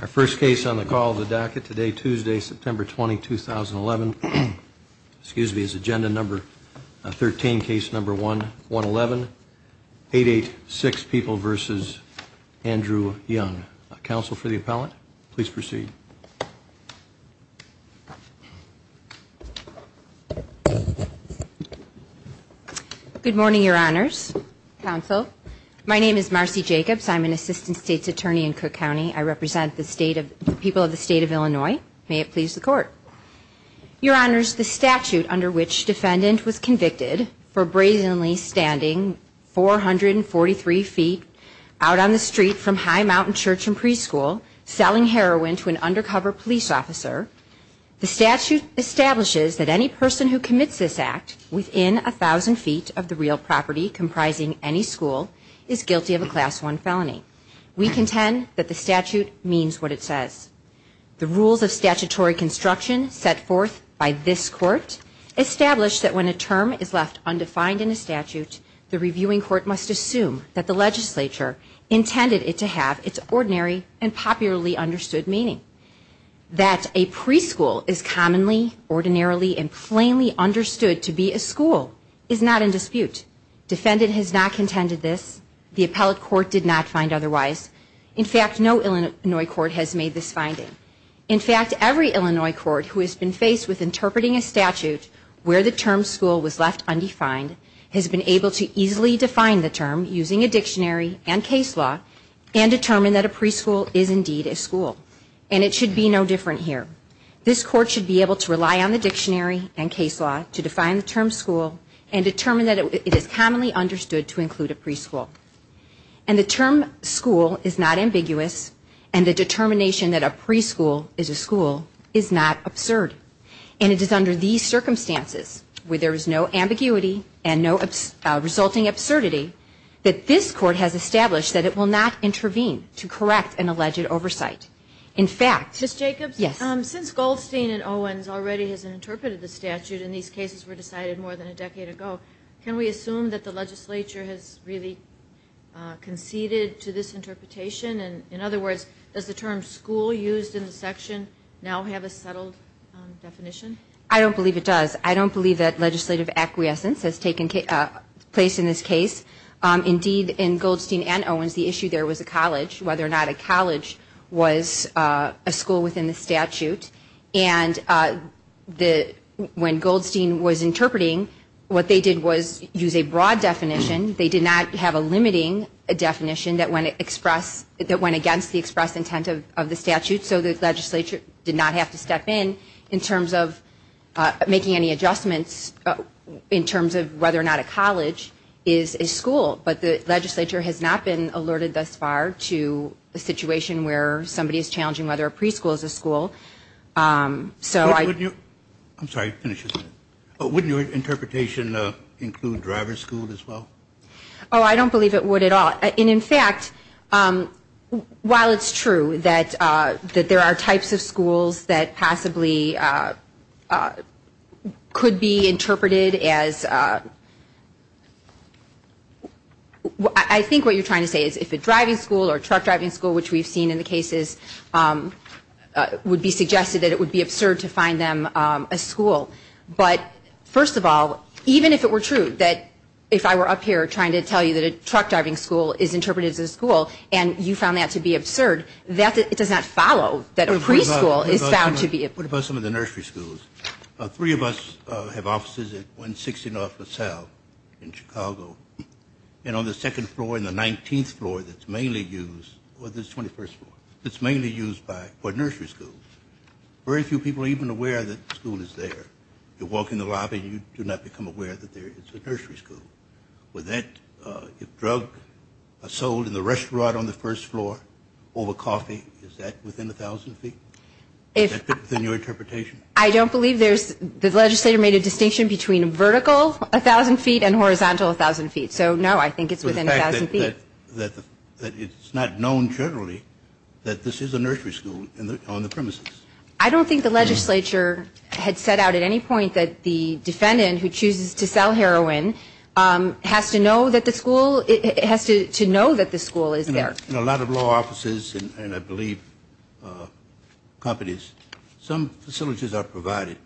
Our first case on the call of the docket today, Tuesday, September 20, 2011, excuse me, is agenda number 13, case number 111, 886 People v. Andrew Young. Counsel for the appellant, please proceed. Good morning, Your Honors, Counsel. I represent the people of the State of Illinois. May it please the Court. Your Honors, the statute under which defendant was convicted for brazenly standing 443 feet out on the street from High Mountain Church and Preschool selling heroin to an undercover police officer, the statute establishes that any person who commits this act within 1,000 feet of the real property comprising any school is guilty of a Class I felony. We contend that the statute means what it says. The rules of statutory construction set forth by this Court establish that when a term is left undefined in a statute, the reviewing court must assume that the legislature intended it to have its ordinary and popularly understood meaning. That a preschool is commonly, ordinarily, and plainly understood to be a school is not in dispute. Defendant has not contended this. The appellate court did not find otherwise. In fact, no Illinois court has made this finding. In fact, every Illinois court who has been faced with interpreting a statute where the term school was left undefined has been able to easily define the term using a dictionary and case law and determine that a preschool is indeed a school. And it should be no different here. This Court should be able to rely on the dictionary and case law to define the term school and determine that it is commonly understood to include a preschool. And the term school is not ambiguous and the determination that a preschool is a school is not absurd. And it is under these circumstances where there is no ambiguity and no resulting absurdity that this Court has established that it will not intervene to correct an alleged oversight. In fact... Ms. Jacobs, since Goldstein and Owens already has interpreted the statute and these cases were decided more than a decade ago, can we assume that the legislature has really conceded to this interpretation? In other words, does the term school used in the section now have a settled definition? I don't believe it does. I don't believe that legislative acquiescence has taken place in this case. Indeed, in Goldstein and Owens, the issue there was a college. Whether or not a college was a school within the statute. And when Goldstein was interpreting, what they did was use a broad definition. They did not have a limiting definition that went against the express intent of the statute. So the legislature did not have to step in in terms of making any adjustments in terms of whether or not a college is a school. But the legislature has not been alerted thus far to a situation where somebody is challenging whether a preschool is a school. So I... I'm sorry, finish your sentence. Would your interpretation include driver's school as well? Oh, I don't believe it would at all. And in fact, while it's true that there are types of schools that possibly could be interpreted as... I think what you're trying to say is if a driving school or truck driving school, which we've seen in the cases, would be suggested that it would be absurd to find them a school. But first of all, even if it were true that if I were up here trying to tell you that a truck driving school is interpreted as a school and you found that to be absurd, it does not follow that a preschool is found to be... What about some of the nursery schools? Three of us have offices at 160 North LaSalle in Chicago. And on the second floor and the 19th floor that's mainly used, or the 21st floor, that's mainly used for nursery schools, very few people are even aware that the school is there. You walk in the lobby and you do not become aware that it's a nursery school. With that, if drugs are sold in the restaurant on the first floor over coffee, is that within 1,000 feet? Is that within your interpretation? I don't believe there's... The legislature made a distinction between vertical 1,000 feet and horizontal 1,000 feet. So, no, I think it's within 1,000 feet. But the fact that it's not known generally that this is a nursery school on the premises. I don't think the legislature had set out at any point that the defendant who chooses to sell heroin has to know that the school is there. In a lot of law offices, and I believe companies, some facilities are provided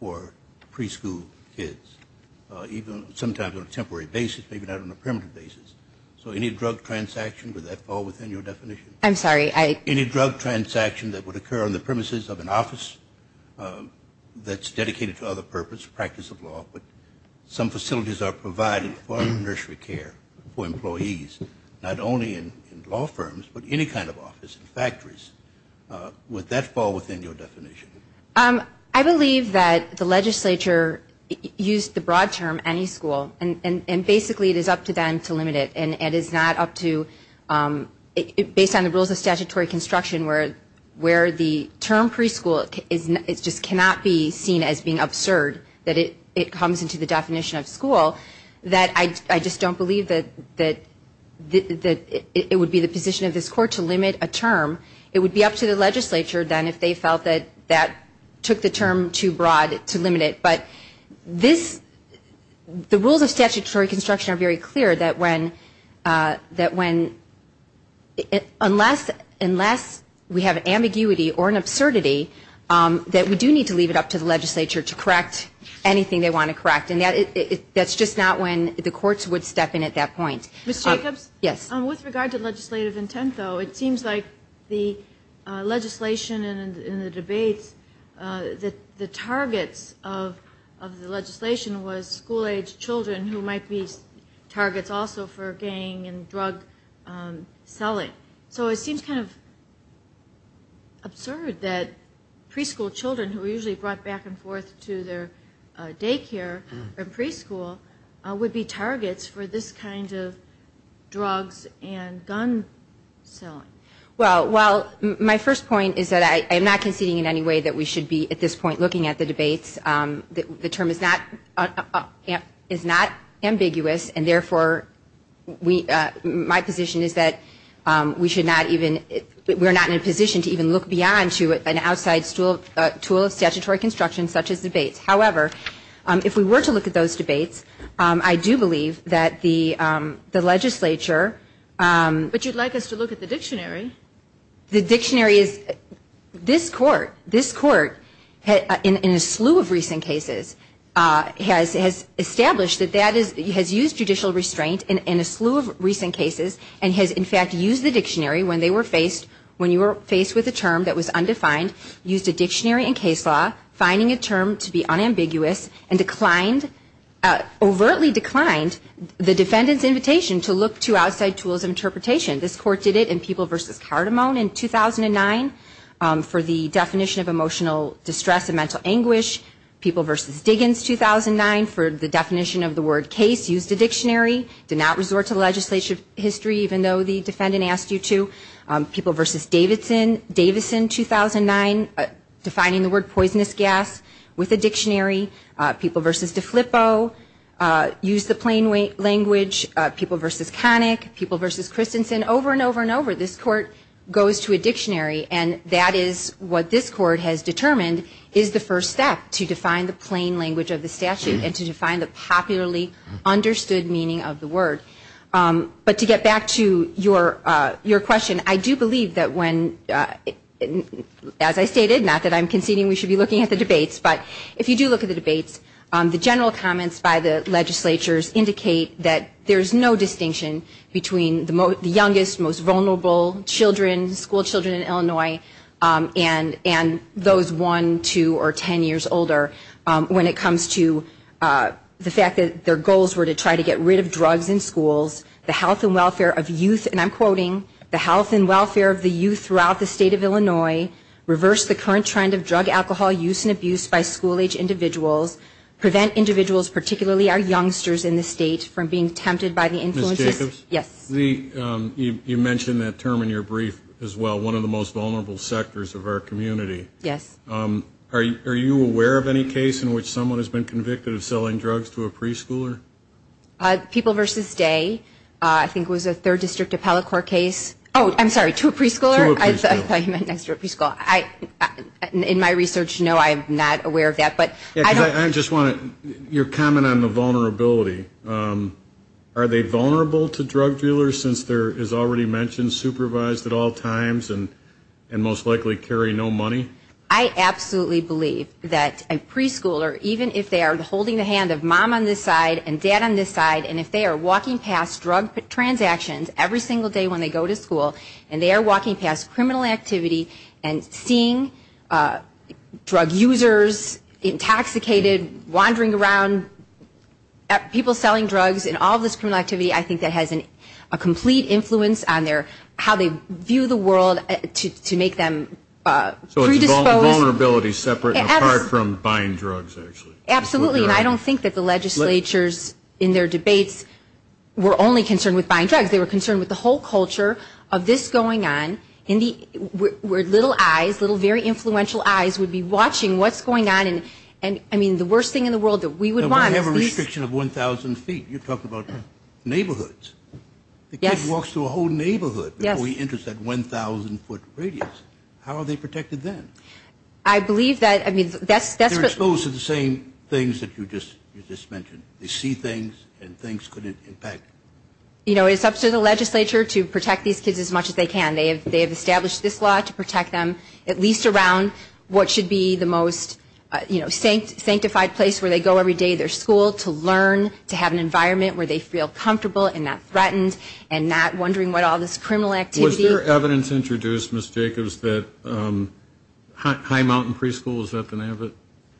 for preschool kids, even sometimes on a temporary basis, maybe not on a permanent basis. So any drug transaction, would that fall within your definition? Any drug transaction that would occur on the premises of an office that's dedicated to other purposes, practice of law, but some facilities are provided for nursery care for employees, not only in law firms, but any kind of office, factories. Would that fall within your definition? I believe that the legislature used the broad term, any school, and basically it is up to them to limit it, and it is not up to... Based on the rules of statutory construction where the term preschool just cannot be seen as being absurd, that it comes into the definition of school, that I just don't believe that it would be the position of this court to limit a term. It would be up to the legislature then if they felt that that took the term too broad to limit it. But the rules of statutory construction are very clear that unless we have ambiguity or an absurdity, that we do need to leave it up to the legislature to correct anything they want to correct, and that's just not when the courts would step in at that point. Ms. Jacobs, with regard to legislative intent, though, it seems like the legislation in the debates, the targets of the legislation was school-age children who might be targets also for gang and drug selling. So it seems kind of absurd that preschool children, who are usually brought back and forth to their daycare or preschool, would be targets for this kind of drugs and gun selling. Well, my first point is that I am not conceding in any way that we should be at this point looking at the debates. The term is not ambiguous, and therefore my position is that we should not even... We're not in a position to even look beyond to an outside tool of statutory construction such as debates. However, if we were to look at those debates, I do believe that the legislature... But you'd like us to look at the dictionary. The dictionary is... This Court, in a slew of recent cases, has established that that has used judicial restraint in a slew of recent cases, and has, in fact, used the dictionary when you were faced with a term that was undefined, used a dictionary in case law, finding a term to be unambiguous, and declined, overtly declined the defendant's invitation to look to outside tools of interpretation. This Court did it in People v. Cardamone in 2009 for the definition of emotional distress and mental anguish. People v. Diggins, 2009, for the definition of the word case, used a dictionary, did not resort to legislative history, even though the defendant asked you to. People v. Davidson, 2009, defining the word poisonous gas with a dictionary. People v. DeFlippo used the plain language. People v. Connick, People v. Christensen, over and over and over, this Court goes to a dictionary, and that is what this Court has determined is the first step to define the plain language of the statute, and to define the popularly understood meaning of the word. But to get back to your question, I do believe that when, as I stated, not that I'm conceding we should be looking at the debates, but if you do look at the debates, the general comments by the legislatures indicate that there's no distinction between the youngest, most vulnerable children, school children in Illinois, and those one, two, or ten years older when it comes to the fact that their goals were to try to get rid of drugs in schools, the health and welfare of youth, and I'm quoting, the health and welfare of the youth throughout the state of Illinois, reverse the current trend of drug, alcohol use and abuse by school-age individuals, prevent individuals, particularly our youngsters in the state from being tempted by the influences. Yes. You mentioned that term in your brief as well, one of the most vulnerable sectors of our community. Yes. Are you aware of any case in which someone has been convicted of selling drugs to a preschooler? People versus Day, I think it was a third district appellate court case. Oh, I'm sorry, to a preschooler? I thought you meant next to a preschooler. In my research, no, I'm not aware of that, but I don't. I just wanted your comment on the vulnerability. Are they vulnerable to drug dealers since they're, as already mentioned, supervised at all times and most likely carry no money? I absolutely believe that a preschooler, even if they are holding the hand of mom on this side and dad on this side, and if they are walking past drug transactions every single day when they go to school and they are walking past criminal activity and seeing drug users intoxicated, wandering around, people selling drugs and all this criminal activity, I think that has a complete influence on how they view the world to make them predisposed. So it's a vulnerability separate, apart from buying drugs, actually. Absolutely, and I don't think that the legislatures in their debates were only concerned with buying drugs. They were concerned with the whole culture of this going on, where little eyes, little very influential eyes would be watching what's going on, and I mean, the worst thing in the world that we would want is this. We have a restriction of 1,000 feet. You're talking about neighborhoods. Yes. A kid walks through a whole neighborhood before he enters that 1,000 foot radius. How are they protected then? I believe that, I mean, that's... They're exposed to the same things that you just mentioned. They see things and things could impact. You know, it's up to the legislature to protect these kids as much as they can. They have established this law to protect them, at least around what should be the most, you know, sanctified place where they go every day to their school to learn, to have an environment where they feel comfortable and not threatened and not wondering about all this criminal activity. Was there evidence introduced, Ms. Jacobs, that High Mountain Preschool, is that the name of it?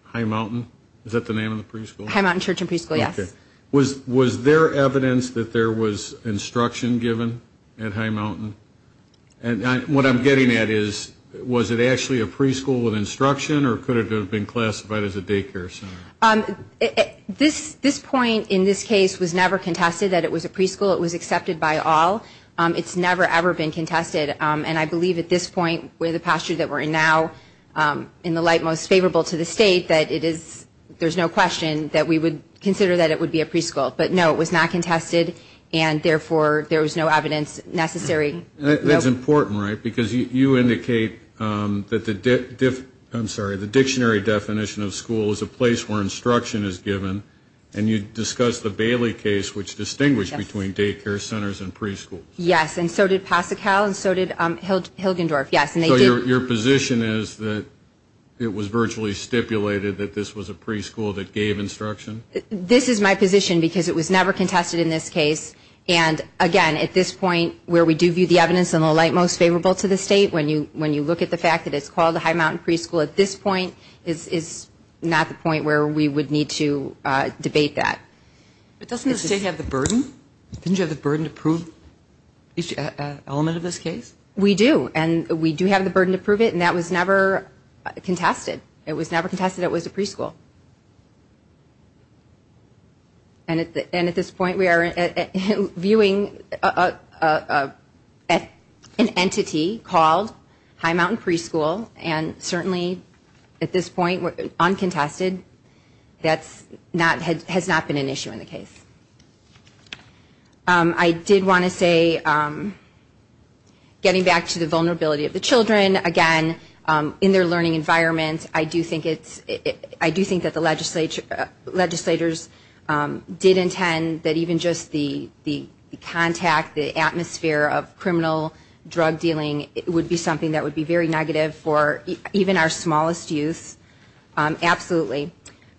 High Mountain? Is that the name of the preschool? High Mountain Church and Preschool, yes. Okay. Was there evidence that there was instruction given at High Mountain? And what I'm getting at is, was it actually a preschool with instruction or could it have been classified as a daycare center? This point in this case was never contested that it was a preschool. It was accepted by all. It's never, ever been contested. And I believe at this point, with the posture that we're in now, in the light most favorable to the state, that it is, there's no question that we would consider that it would be a preschool. But, no, it was not contested, and, therefore, there was no evidence necessary. That's important, right? Because you indicate that the dictionary definition of school is a place where instruction is given, and you discuss the Bailey case, which distinguished between daycare centers and preschools. Yes, and so did Pasachal, and so did Hilgendorf, yes. So your position is that it was virtually stipulated that this was a preschool that gave instruction? This is my position because it was never contested in this case. And, again, at this point, where we do view the evidence in the light most favorable to the state, when you look at the fact that it's called a high mountain preschool, at this point is not the point where we would need to debate that. But doesn't the state have the burden? Didn't you have the burden to prove each element of this case? We do, and we do have the burden to prove it, and that was never contested. It was never contested it was a preschool. And at this point we are viewing an entity called high mountain preschool, and certainly at this point, uncontested, that has not been an issue in the case. I did want to say, getting back to the vulnerability of the children, again, in their learning environment, I do think it's, I do think that the legislators did intend that even just the contact, the atmosphere of criminal drug dealing, it would be something that would be very negative for even our smallest youth, absolutely.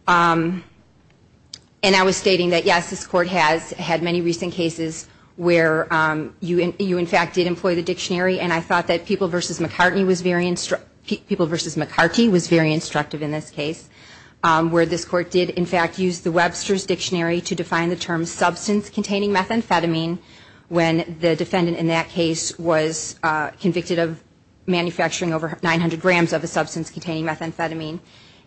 And I was stating that, yes, this court has had many recent cases where you, in fact, did employ the dictionary, and I thought that People v. McCartney was very instructive, People v. McCartney was very instructive in this case, where this court did, in fact, use the Webster's Dictionary to define the term substance-containing methamphetamine when the defendant in that case was convicted of manufacturing over 900 grams of a substance-containing methamphetamine.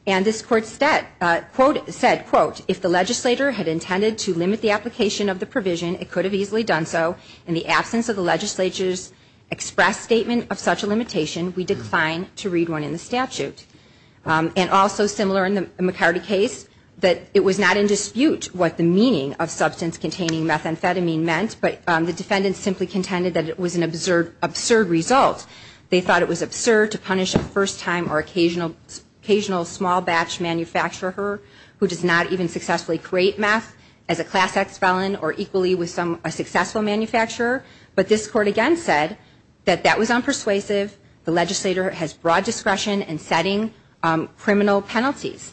And this court said, quote, if the legislator had intended to limit the application of the provision, it could have easily done so. In the absence of the legislator's express statement of such a limitation, we decline to read one in the statute. And also similar in the McCartney case, that it was not in dispute what the meaning of substance-containing methamphetamine meant, but the defendant simply contended that it was an absurd result. They thought it was absurd to punish a first-time or occasional small-batch manufacturer who does not even successfully create meth as a Class X felon or equally with a successful manufacturer. But this court again said that that was unpersuasive, the legislator has broad discretion in setting criminal penalties.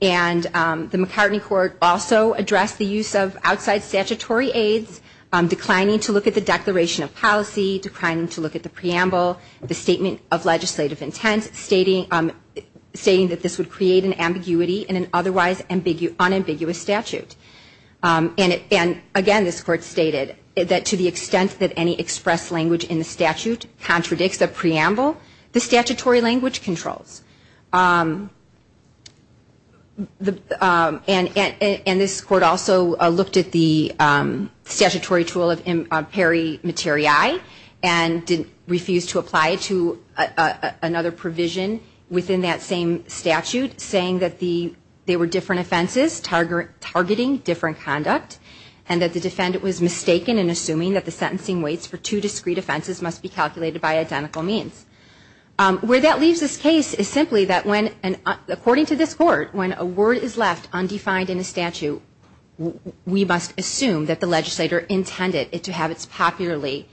And the McCartney court also addressed the use of outside statutory aids, declining to look at the Declaration of Policy, declining to look at the Preamble, the Statement of Legislative Intent, stating that this would create an ambiguity in an otherwise unambiguous statute. And again, this court stated that to the extent that any expressed language in the statute contradicts the Preamble, the statutory language controls. And this court also looked at the statutory tool of peri materiae and refused to apply it to another provision within that same statute, saying that they were different offenses targeting different conduct and that the defendant was mistaken in assuming that the sentencing weights for two discrete offenses must be calculated by identical means. Where that leaves this case is simply that when, according to this court, when a word is left undefined in a statute, we must assume that the legislator intended it to have its popularly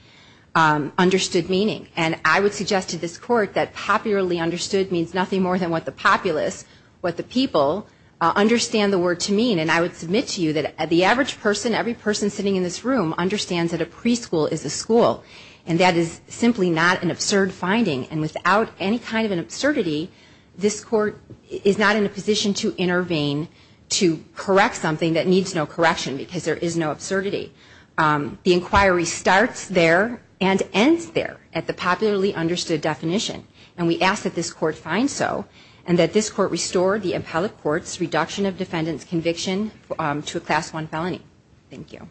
understood meaning. And I would suggest to this court that popularly understood means nothing more than what the populace, what the people, understand the word to mean. And I would submit to you that the average person, every person sitting in this room, understands that a preschool is a school. And that is simply not an absurd finding. And without any kind of an absurdity, this court is not in a position to intervene to correct something that needs no correction, because there is no absurdity. The inquiry starts there and ends there at the popularly understood definition. And we ask that this court find so, and that this court restore the appellate court's reduction of defendant's conviction to a Class I felony. Thank you.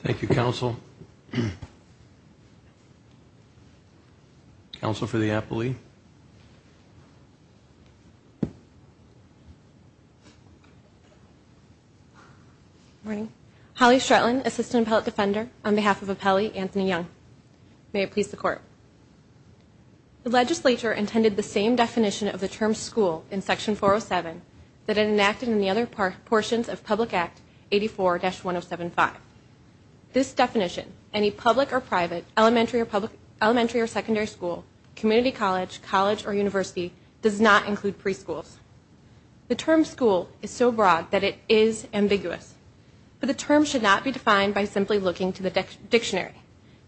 Thank you, counsel. Counsel for the appellee. Good morning. Holly Stretland, Assistant Appellate Defender, on behalf of Appellee Anthony Young. May it please the court. The legislature intended the same definition of the term school in Section 407 that it enacted in the other portions of Public Act 84-1075. This definition, any public or private, elementary or secondary school, community college, college or university, does not include preschools. The term school is so broad that it is ambiguous. But the term should not be defined by simply looking to the dictionary.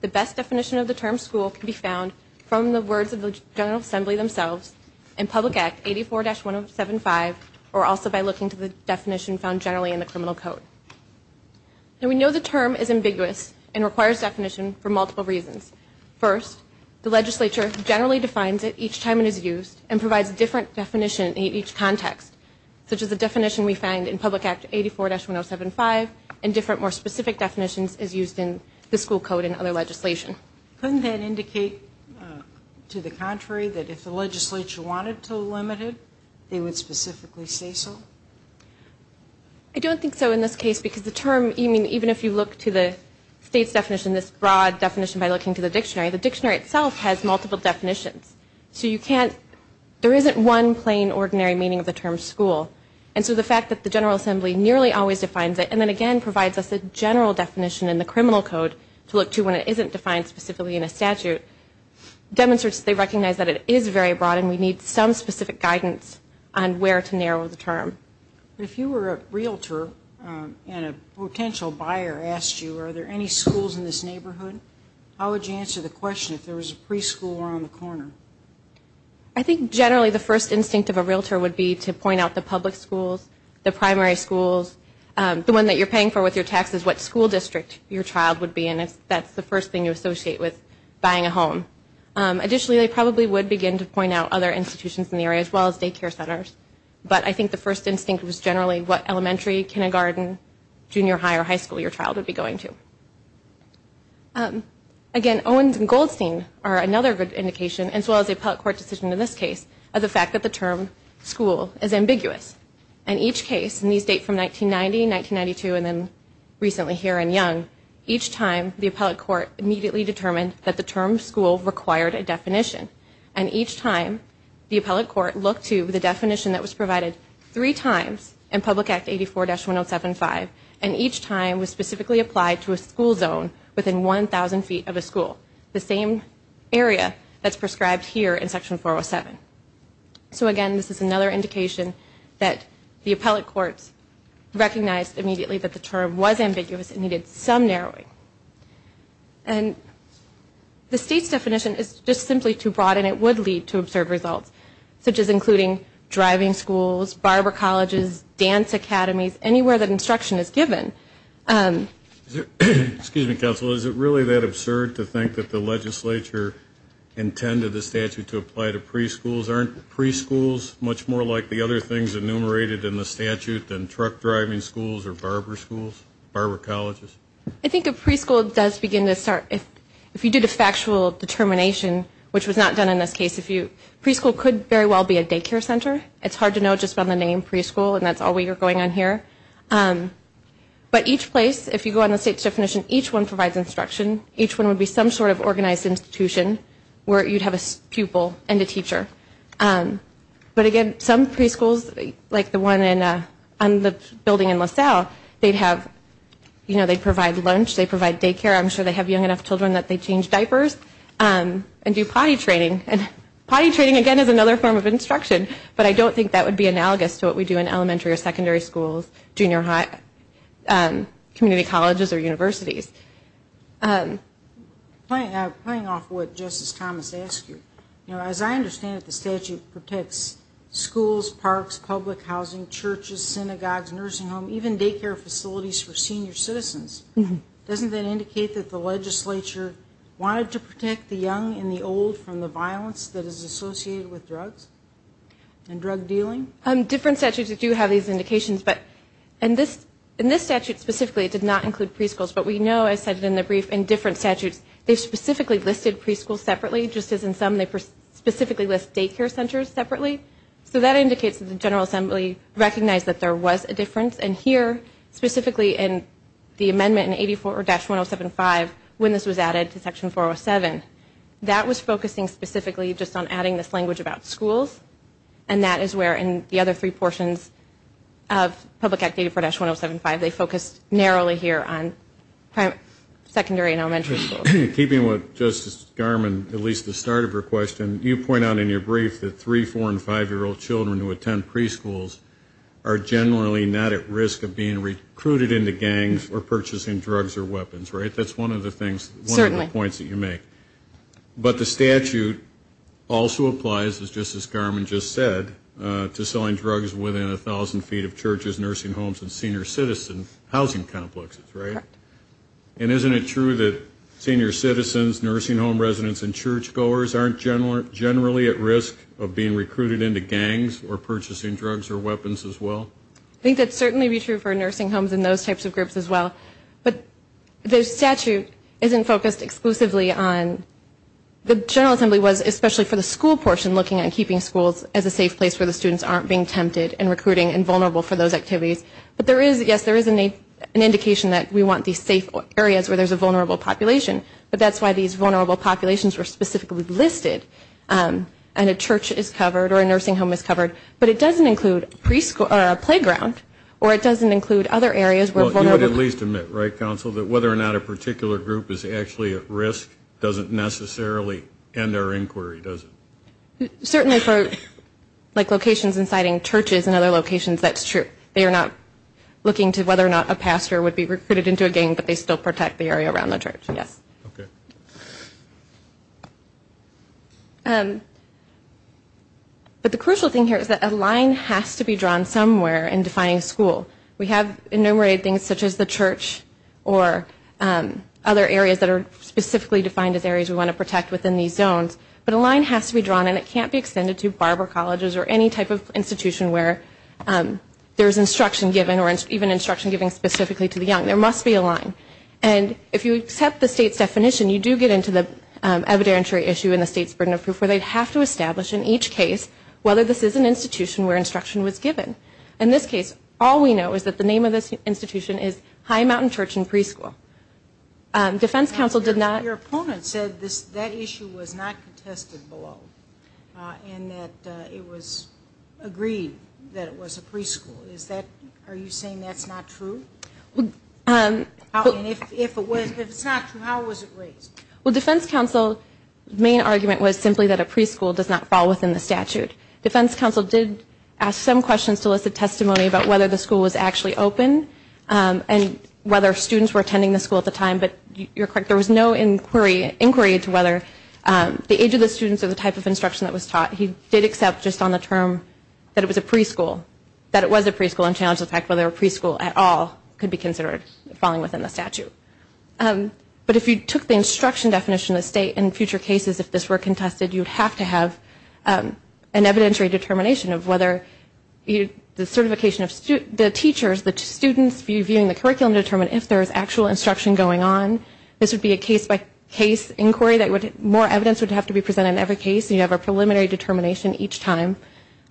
The best definition of the term school can be found from the words of the General Assembly themselves in Public Act 84-1075, or also by looking to the definition found generally in the Criminal Code. And we know the term is ambiguous and requires definition for multiple reasons. First, the legislature generally defines it each time it is used and provides a different definition in each context, such as the definition we find in Public Act 84-1075 and different more specific definitions as used in the school code and other legislation. Couldn't that indicate, to the contrary, that if the legislature wanted to limit it, they would specifically say so? I don't think so in this case, because even if you look to the state's definition, this broad definition by looking to the dictionary, the dictionary itself has multiple definitions. There isn't one plain, ordinary meaning of the term school. And so the fact that the General Assembly nearly always defines it and then again provides us a general definition in the Criminal Code to look to when it isn't defined specifically in a statute demonstrates they recognize that it is very broad and we need some specific guidance on where to narrow the term. If you were a realtor and a potential buyer asked you, are there any schools in this neighborhood, how would you answer the question if there was a preschool around the corner? I think generally the first instinct of a realtor would be to point out the public schools, the primary schools, the one that you're paying for with your taxes, what school district your child would be in, if that's the first thing you associate with buying a home. Additionally, they probably would begin to point out other institutions in the area as well as daycare centers. But I think the first instinct was generally what elementary, kindergarten, junior high or high school your child would be going to. Again, Owens and Goldstein are another good indication, as well as the appellate court decision in this case, of the fact that the term school is ambiguous. And each case, and these date from 1990, 1992, and then recently here in Young, each time the appellate court immediately determined that the term school required a definition. And each time the appellate court looked to the definition that was provided three times in Public Act 84-1075, and each time was specifically applied to a school zone within 1,000 feet of a school. The same area that's prescribed here in Section 407. So again, this is another indication that the appellate courts recognized immediately that the term was ambiguous and needed some narrowing. And the state's definition is just simply too broad. And it would lead to absurd results, such as including driving schools, barber colleges, dance academies, anywhere that instruction is given. Excuse me, counsel. Is it really that absurd to think that the legislature intended the statute to apply to preschools? Aren't preschools much more like the other things enumerated in the statute than truck driving schools or barber schools, barber colleges? I think a preschool does begin to start, if you did a factual determination, which was not done in this case. Preschool could very well be a daycare center. It's hard to know just by the name preschool, and that's all we are going on here. But each place, if you go on the state's definition, each one provides instruction. Each one would be some sort of organized institution where you'd have a pupil and a teacher. But again, some preschools, like the one on the building in LaSalle, they'd provide lunch, they'd provide daycare. I'm sure they have young enough children that they change diapers and do potty training. Potty training, again, is another form of instruction, but I don't think that would be analogous to what we do in elementary or secondary schools, junior high, community colleges, or universities. Playing off what Justice Thomas asked you, as I understand it, the statute protects schools, parks, public housing, churches, synagogues, nursing homes, even daycare facilities for senior citizens. Doesn't that indicate that the legislature wanted to protect the young and the old from the violence that is associated with drugs and drug dealing? Different statutes do have these indications, but in this statute specifically it did not include preschools, but we know, as cited in the brief, in different statutes, they specifically listed preschools separately, just as in some they specifically list daycare centers separately. So that indicates that the General Assembly recognized that there was a difference. And here, specifically in the amendment in 84-1075, when this was added to Section 407, that was focusing specifically just on adding this language about schools, and that is where in the other three portions of Public Act 84-1075 they focused narrowly here on secondary and elementary schools. Keeping with Justice Garmon, at least the start of her question, you point out in your brief that three-, four-, and five-year-old children who attend preschools are generally not at risk of being recruited into gangs or purchasing drugs or weapons, right? That's one of the things, one of the points that you make. But the statute also applies, just as Garmon just said, to selling drugs within 1,000 feet of churches, nursing homes, and senior citizen housing complexes, right? Correct. And isn't it true that senior citizens, nursing home residents, and churchgoers aren't generally at risk of being recruited into gangs or purchasing drugs or weapons as well? I think that would certainly be true for nursing homes and those types of groups as well. But the statute isn't focused exclusively on, the General Assembly was, especially for the school portion, looking at keeping schools as a safe place where the students aren't being tempted and recruiting and vulnerable for those activities. But there is, yes, there is an indication that we want these safe areas where there's a vulnerable population, but that's why these vulnerable populations were specifically listed and a church is covered or a nursing home is covered. But it doesn't include a playground or it doesn't include other areas where vulnerable... Well, you would at least admit, right, Counsel, that whether or not a particular group is actually at risk doesn't necessarily end their inquiry, does it? Certainly for locations inciting churches and other locations, that's true. They are not looking to whether or not a pastor would be recruited into a gang, but they still protect the area around the church, yes. But the crucial thing here is that a line has to be drawn somewhere in defining school. We have enumerated things such as the church or other areas that are specifically defined as areas we want to protect within these zones, but a line has to be drawn and it can't be extended to barber colleges or any type of institution where there's instruction given or even instruction given specifically to the young. There must be a line, and if you accept the state's definition, you do get into the evidentiary issue in the state's burden of proof where they have to establish in each case whether this is an institution where instruction was given. In this case, all we know is that the name of this institution is High Mountain Church and Preschool. Your opponent said that issue was not contested below and that it was agreed that it was a preschool. Are you saying that's not true? If it's not true, how was it raised? Well, defense counsel's main argument was simply that a preschool does not fall within the statute. Defense counsel did ask some questions to elicit testimony about whether the school was actually open and whether students were attending the school at the time, but you're correct, there was no inquiry into whether the age of the students or the type of instruction that was taught. He did accept just on the term that it was a preschool and challenged the fact whether a preschool at all could be considered falling within the statute. But if you took the instruction definition of the state, in future cases if this were contested, you'd have to have an evidentiary determination of whether the teachers, the students viewing the curriculum, determine if there is actual instruction going on. This would be a case-by-case inquiry. More evidence would have to be presented in every case and you'd have a preliminary determination each time.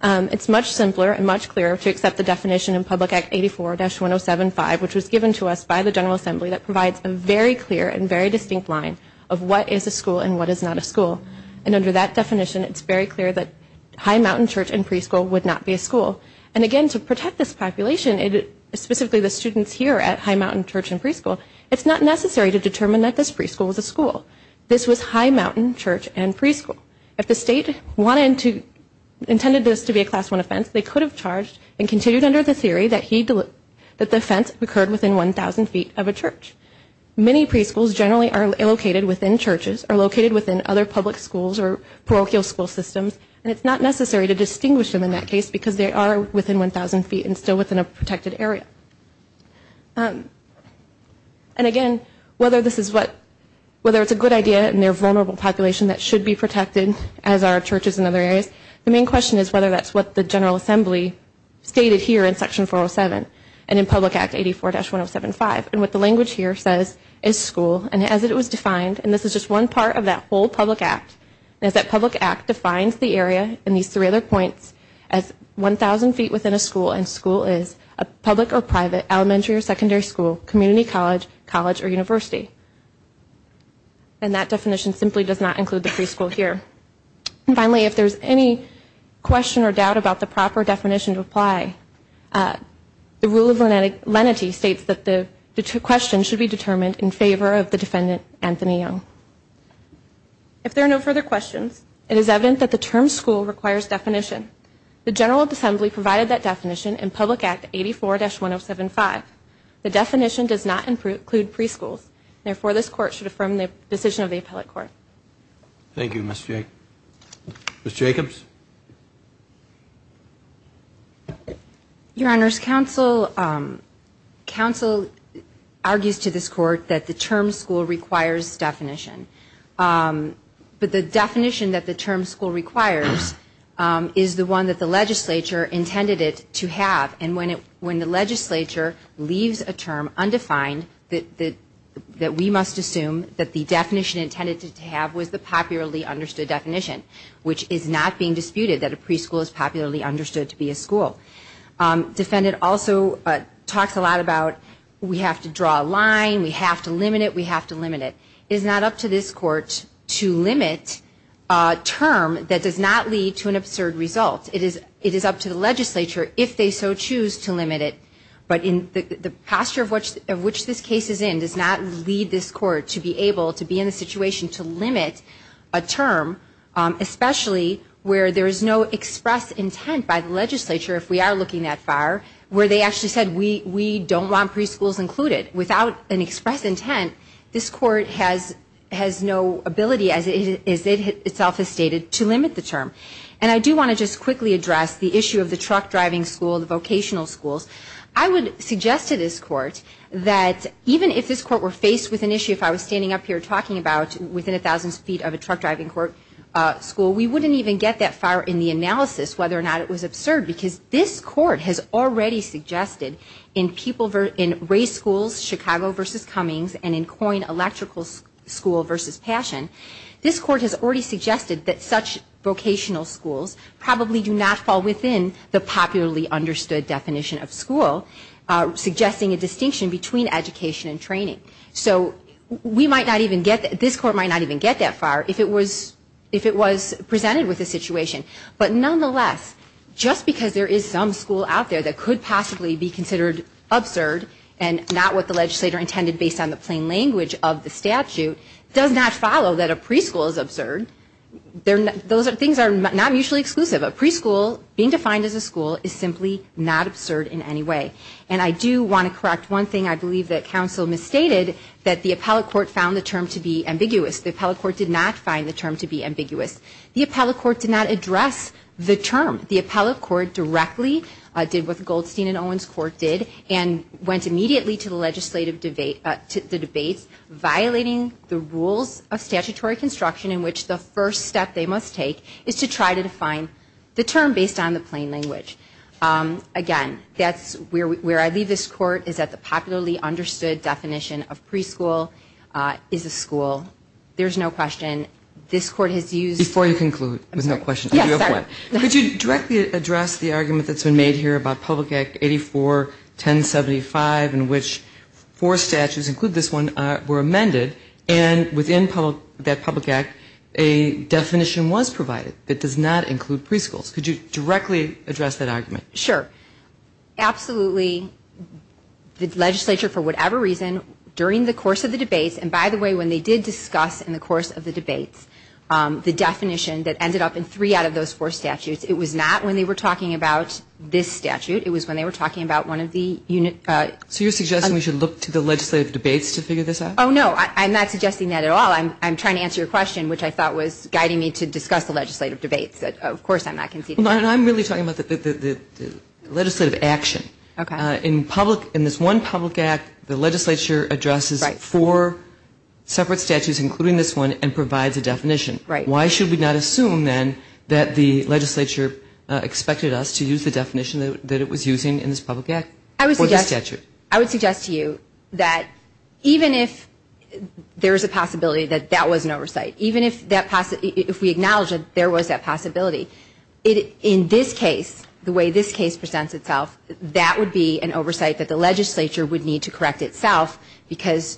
It's much simpler and much clearer to accept the definition in Public Act 84-1075, which was given to us by the General Assembly that provides a very clear and very distinct line of what is a school and what is not a school. Under that definition, it's very clear that High Mountain Church and Preschool would not be a school. Again, to protect this population, specifically the students here at High Mountain Church and Preschool, it's not necessary to determine that this preschool was a school. This was High Mountain Church and Preschool. If the state intended this to be a Class I offense, they could have charged and continued under the theory that the offense occurred within 1,000 feet of a church. Many preschools generally are located within churches, are located within other public schools or parochial school systems, and it's not necessary to distinguish them in that case because they are within 1,000 feet and still within a protected area. And again, whether this is what, whether it's a good idea and they're a vulnerable population that should be protected as are churches in other areas, the main question is whether that's what the General Assembly stated here in Section 407 and in Public Act 84-1075. And what the language here says is school, and as it was defined, and this is just one part of that whole public act, is that public act defines the area in these three other points as 1,000 feet within a school and school is a public or private elementary or secondary school, community college, college or university. And that definition simply does not include the preschool here. Finally, if there's any question or doubt about the proper definition to apply, the rule of lenity states that the question should be determined in favor of the defendant, Anthony Young. If there are no further questions, it is evident that the term school requires definition. The General Assembly provided that definition in Public Act 84-1075. The definition does not include preschools. Therefore, this Court should affirm the decision of the Appellate Court. Thank you, Ms. Jacobs. Your Honors, Counsel argues to this Court that the term school requires definition. But the definition that the term school requires is the one that the legislature intended it to have. And when the legislature leaves a term undefined, that we must assume that the definition intended to have was the popularly understood definition, which is not being disputed, that a preschool is popularly understood to be a school. Defendant also talks a lot about we have to draw a line, we have to limit it. It is not up to this Court to limit a term that does not lead to an absurd result. It is up to the legislature, if they so choose, to limit it. But the posture of which this case is in does not lead this Court to be able to be in a situation to limit a term, especially where there is no express intent by the legislature, if we are looking that far, where they actually said we don't want preschools included. But without an express intent, this Court has no ability, as it itself has stated, to limit the term. And I do want to just quickly address the issue of the truck driving school, the vocational schools. I would suggest to this Court that even if this Court were faced with an issue, if I was standing up here talking about within a thousand feet of a truck driving school, we wouldn't even get that far in the analysis whether or not it was absurd, because this Court has already suggested in race schools, Chicago v. Cummings, and in Coyne Electrical School v. Passion, this Court has already suggested that such vocational schools probably do not fall within the popularly understood definition of school, suggesting a distinction between education and training. So this Court might not even get that far if it was presented with a situation. But nonetheless, just because there is some school out there that could possibly be considered absurd, and not what the legislator intended based on the plain language of the statute, does not follow that a preschool is absurd. Those things are not mutually exclusive. A preschool, being defined as a school, is simply not absurd in any way. And I do want to correct one thing I believe that counsel misstated, that the appellate court found the term to be ambiguous. The appellate court did not find the term to be ambiguous. The appellate court did not address the term. The appellate court directly did what the Goldstein and Owens Court did, and went immediately to the legislative debate, to the debates violating the rules of statutory construction in which the first step they must take is to try to define the term based on the plain language. Again, where I leave this Court is that the popularly understood definition of preschool is a school. There's no question this Court has used... Before you conclude, there's no question. Could you directly address the argument that's been made here about Public Act 84-1075 in which four statutes, include this one, were amended, and within that Public Act a definition was provided that does not include preschools. Could you directly address that argument? Sure. Absolutely. The legislature, for whatever reason, during the course of the debates and, by the way, when they did discuss in the course of the debates the definition that ended up in three out of those four statutes, it was not when they were talking about this statute. It was when they were talking about one of the unit... So you're suggesting we should look to the legislative debates to figure this out? Oh, no, I'm not suggesting that at all. I'm trying to answer your question, which I thought was guiding me to this. In this one Public Act, the legislature addresses four separate statutes, including this one, and provides a definition. Why should we not assume, then, that the legislature expected us to use the definition that it was using in this Public Act for this statute? I would suggest to you that even if there's a possibility that that was an oversight, even if we acknowledge that there was that possibility, in this case, the way this case presents itself, that would be an oversight that the legislature would need to correct itself, because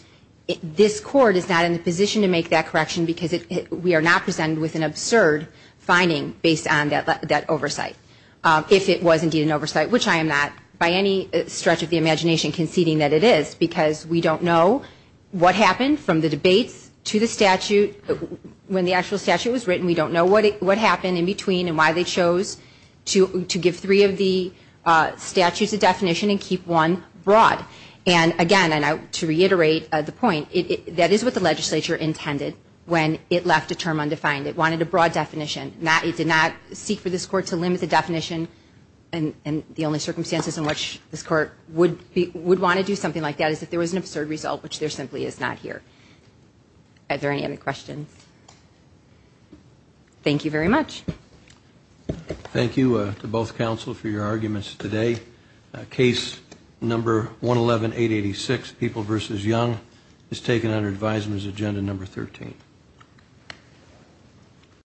this Court is not in a position to make that correction, because we are not presented with an absurd finding based on that oversight. If it was indeed an oversight, which I am not, by any stretch of the imagination conceding that it is, because we don't know what happened from the debates to the statute. When the actual statute was written, we don't know what happened in between and why they chose to give three of the statutes a definition and keep one broad. Again, to reiterate the point, that is what the legislature intended when it left a term undefined. It wanted a broad definition. It did not seek for this Court to limit the definition, and the only circumstances in which this Court would want to do something like that is if there was an absurd result, which there simply is not here. Are there any other questions? Thank you very much. Thank you to both counsel for your arguments today. Case number 111886, People v. Young, is taken under advisement as agenda number 13.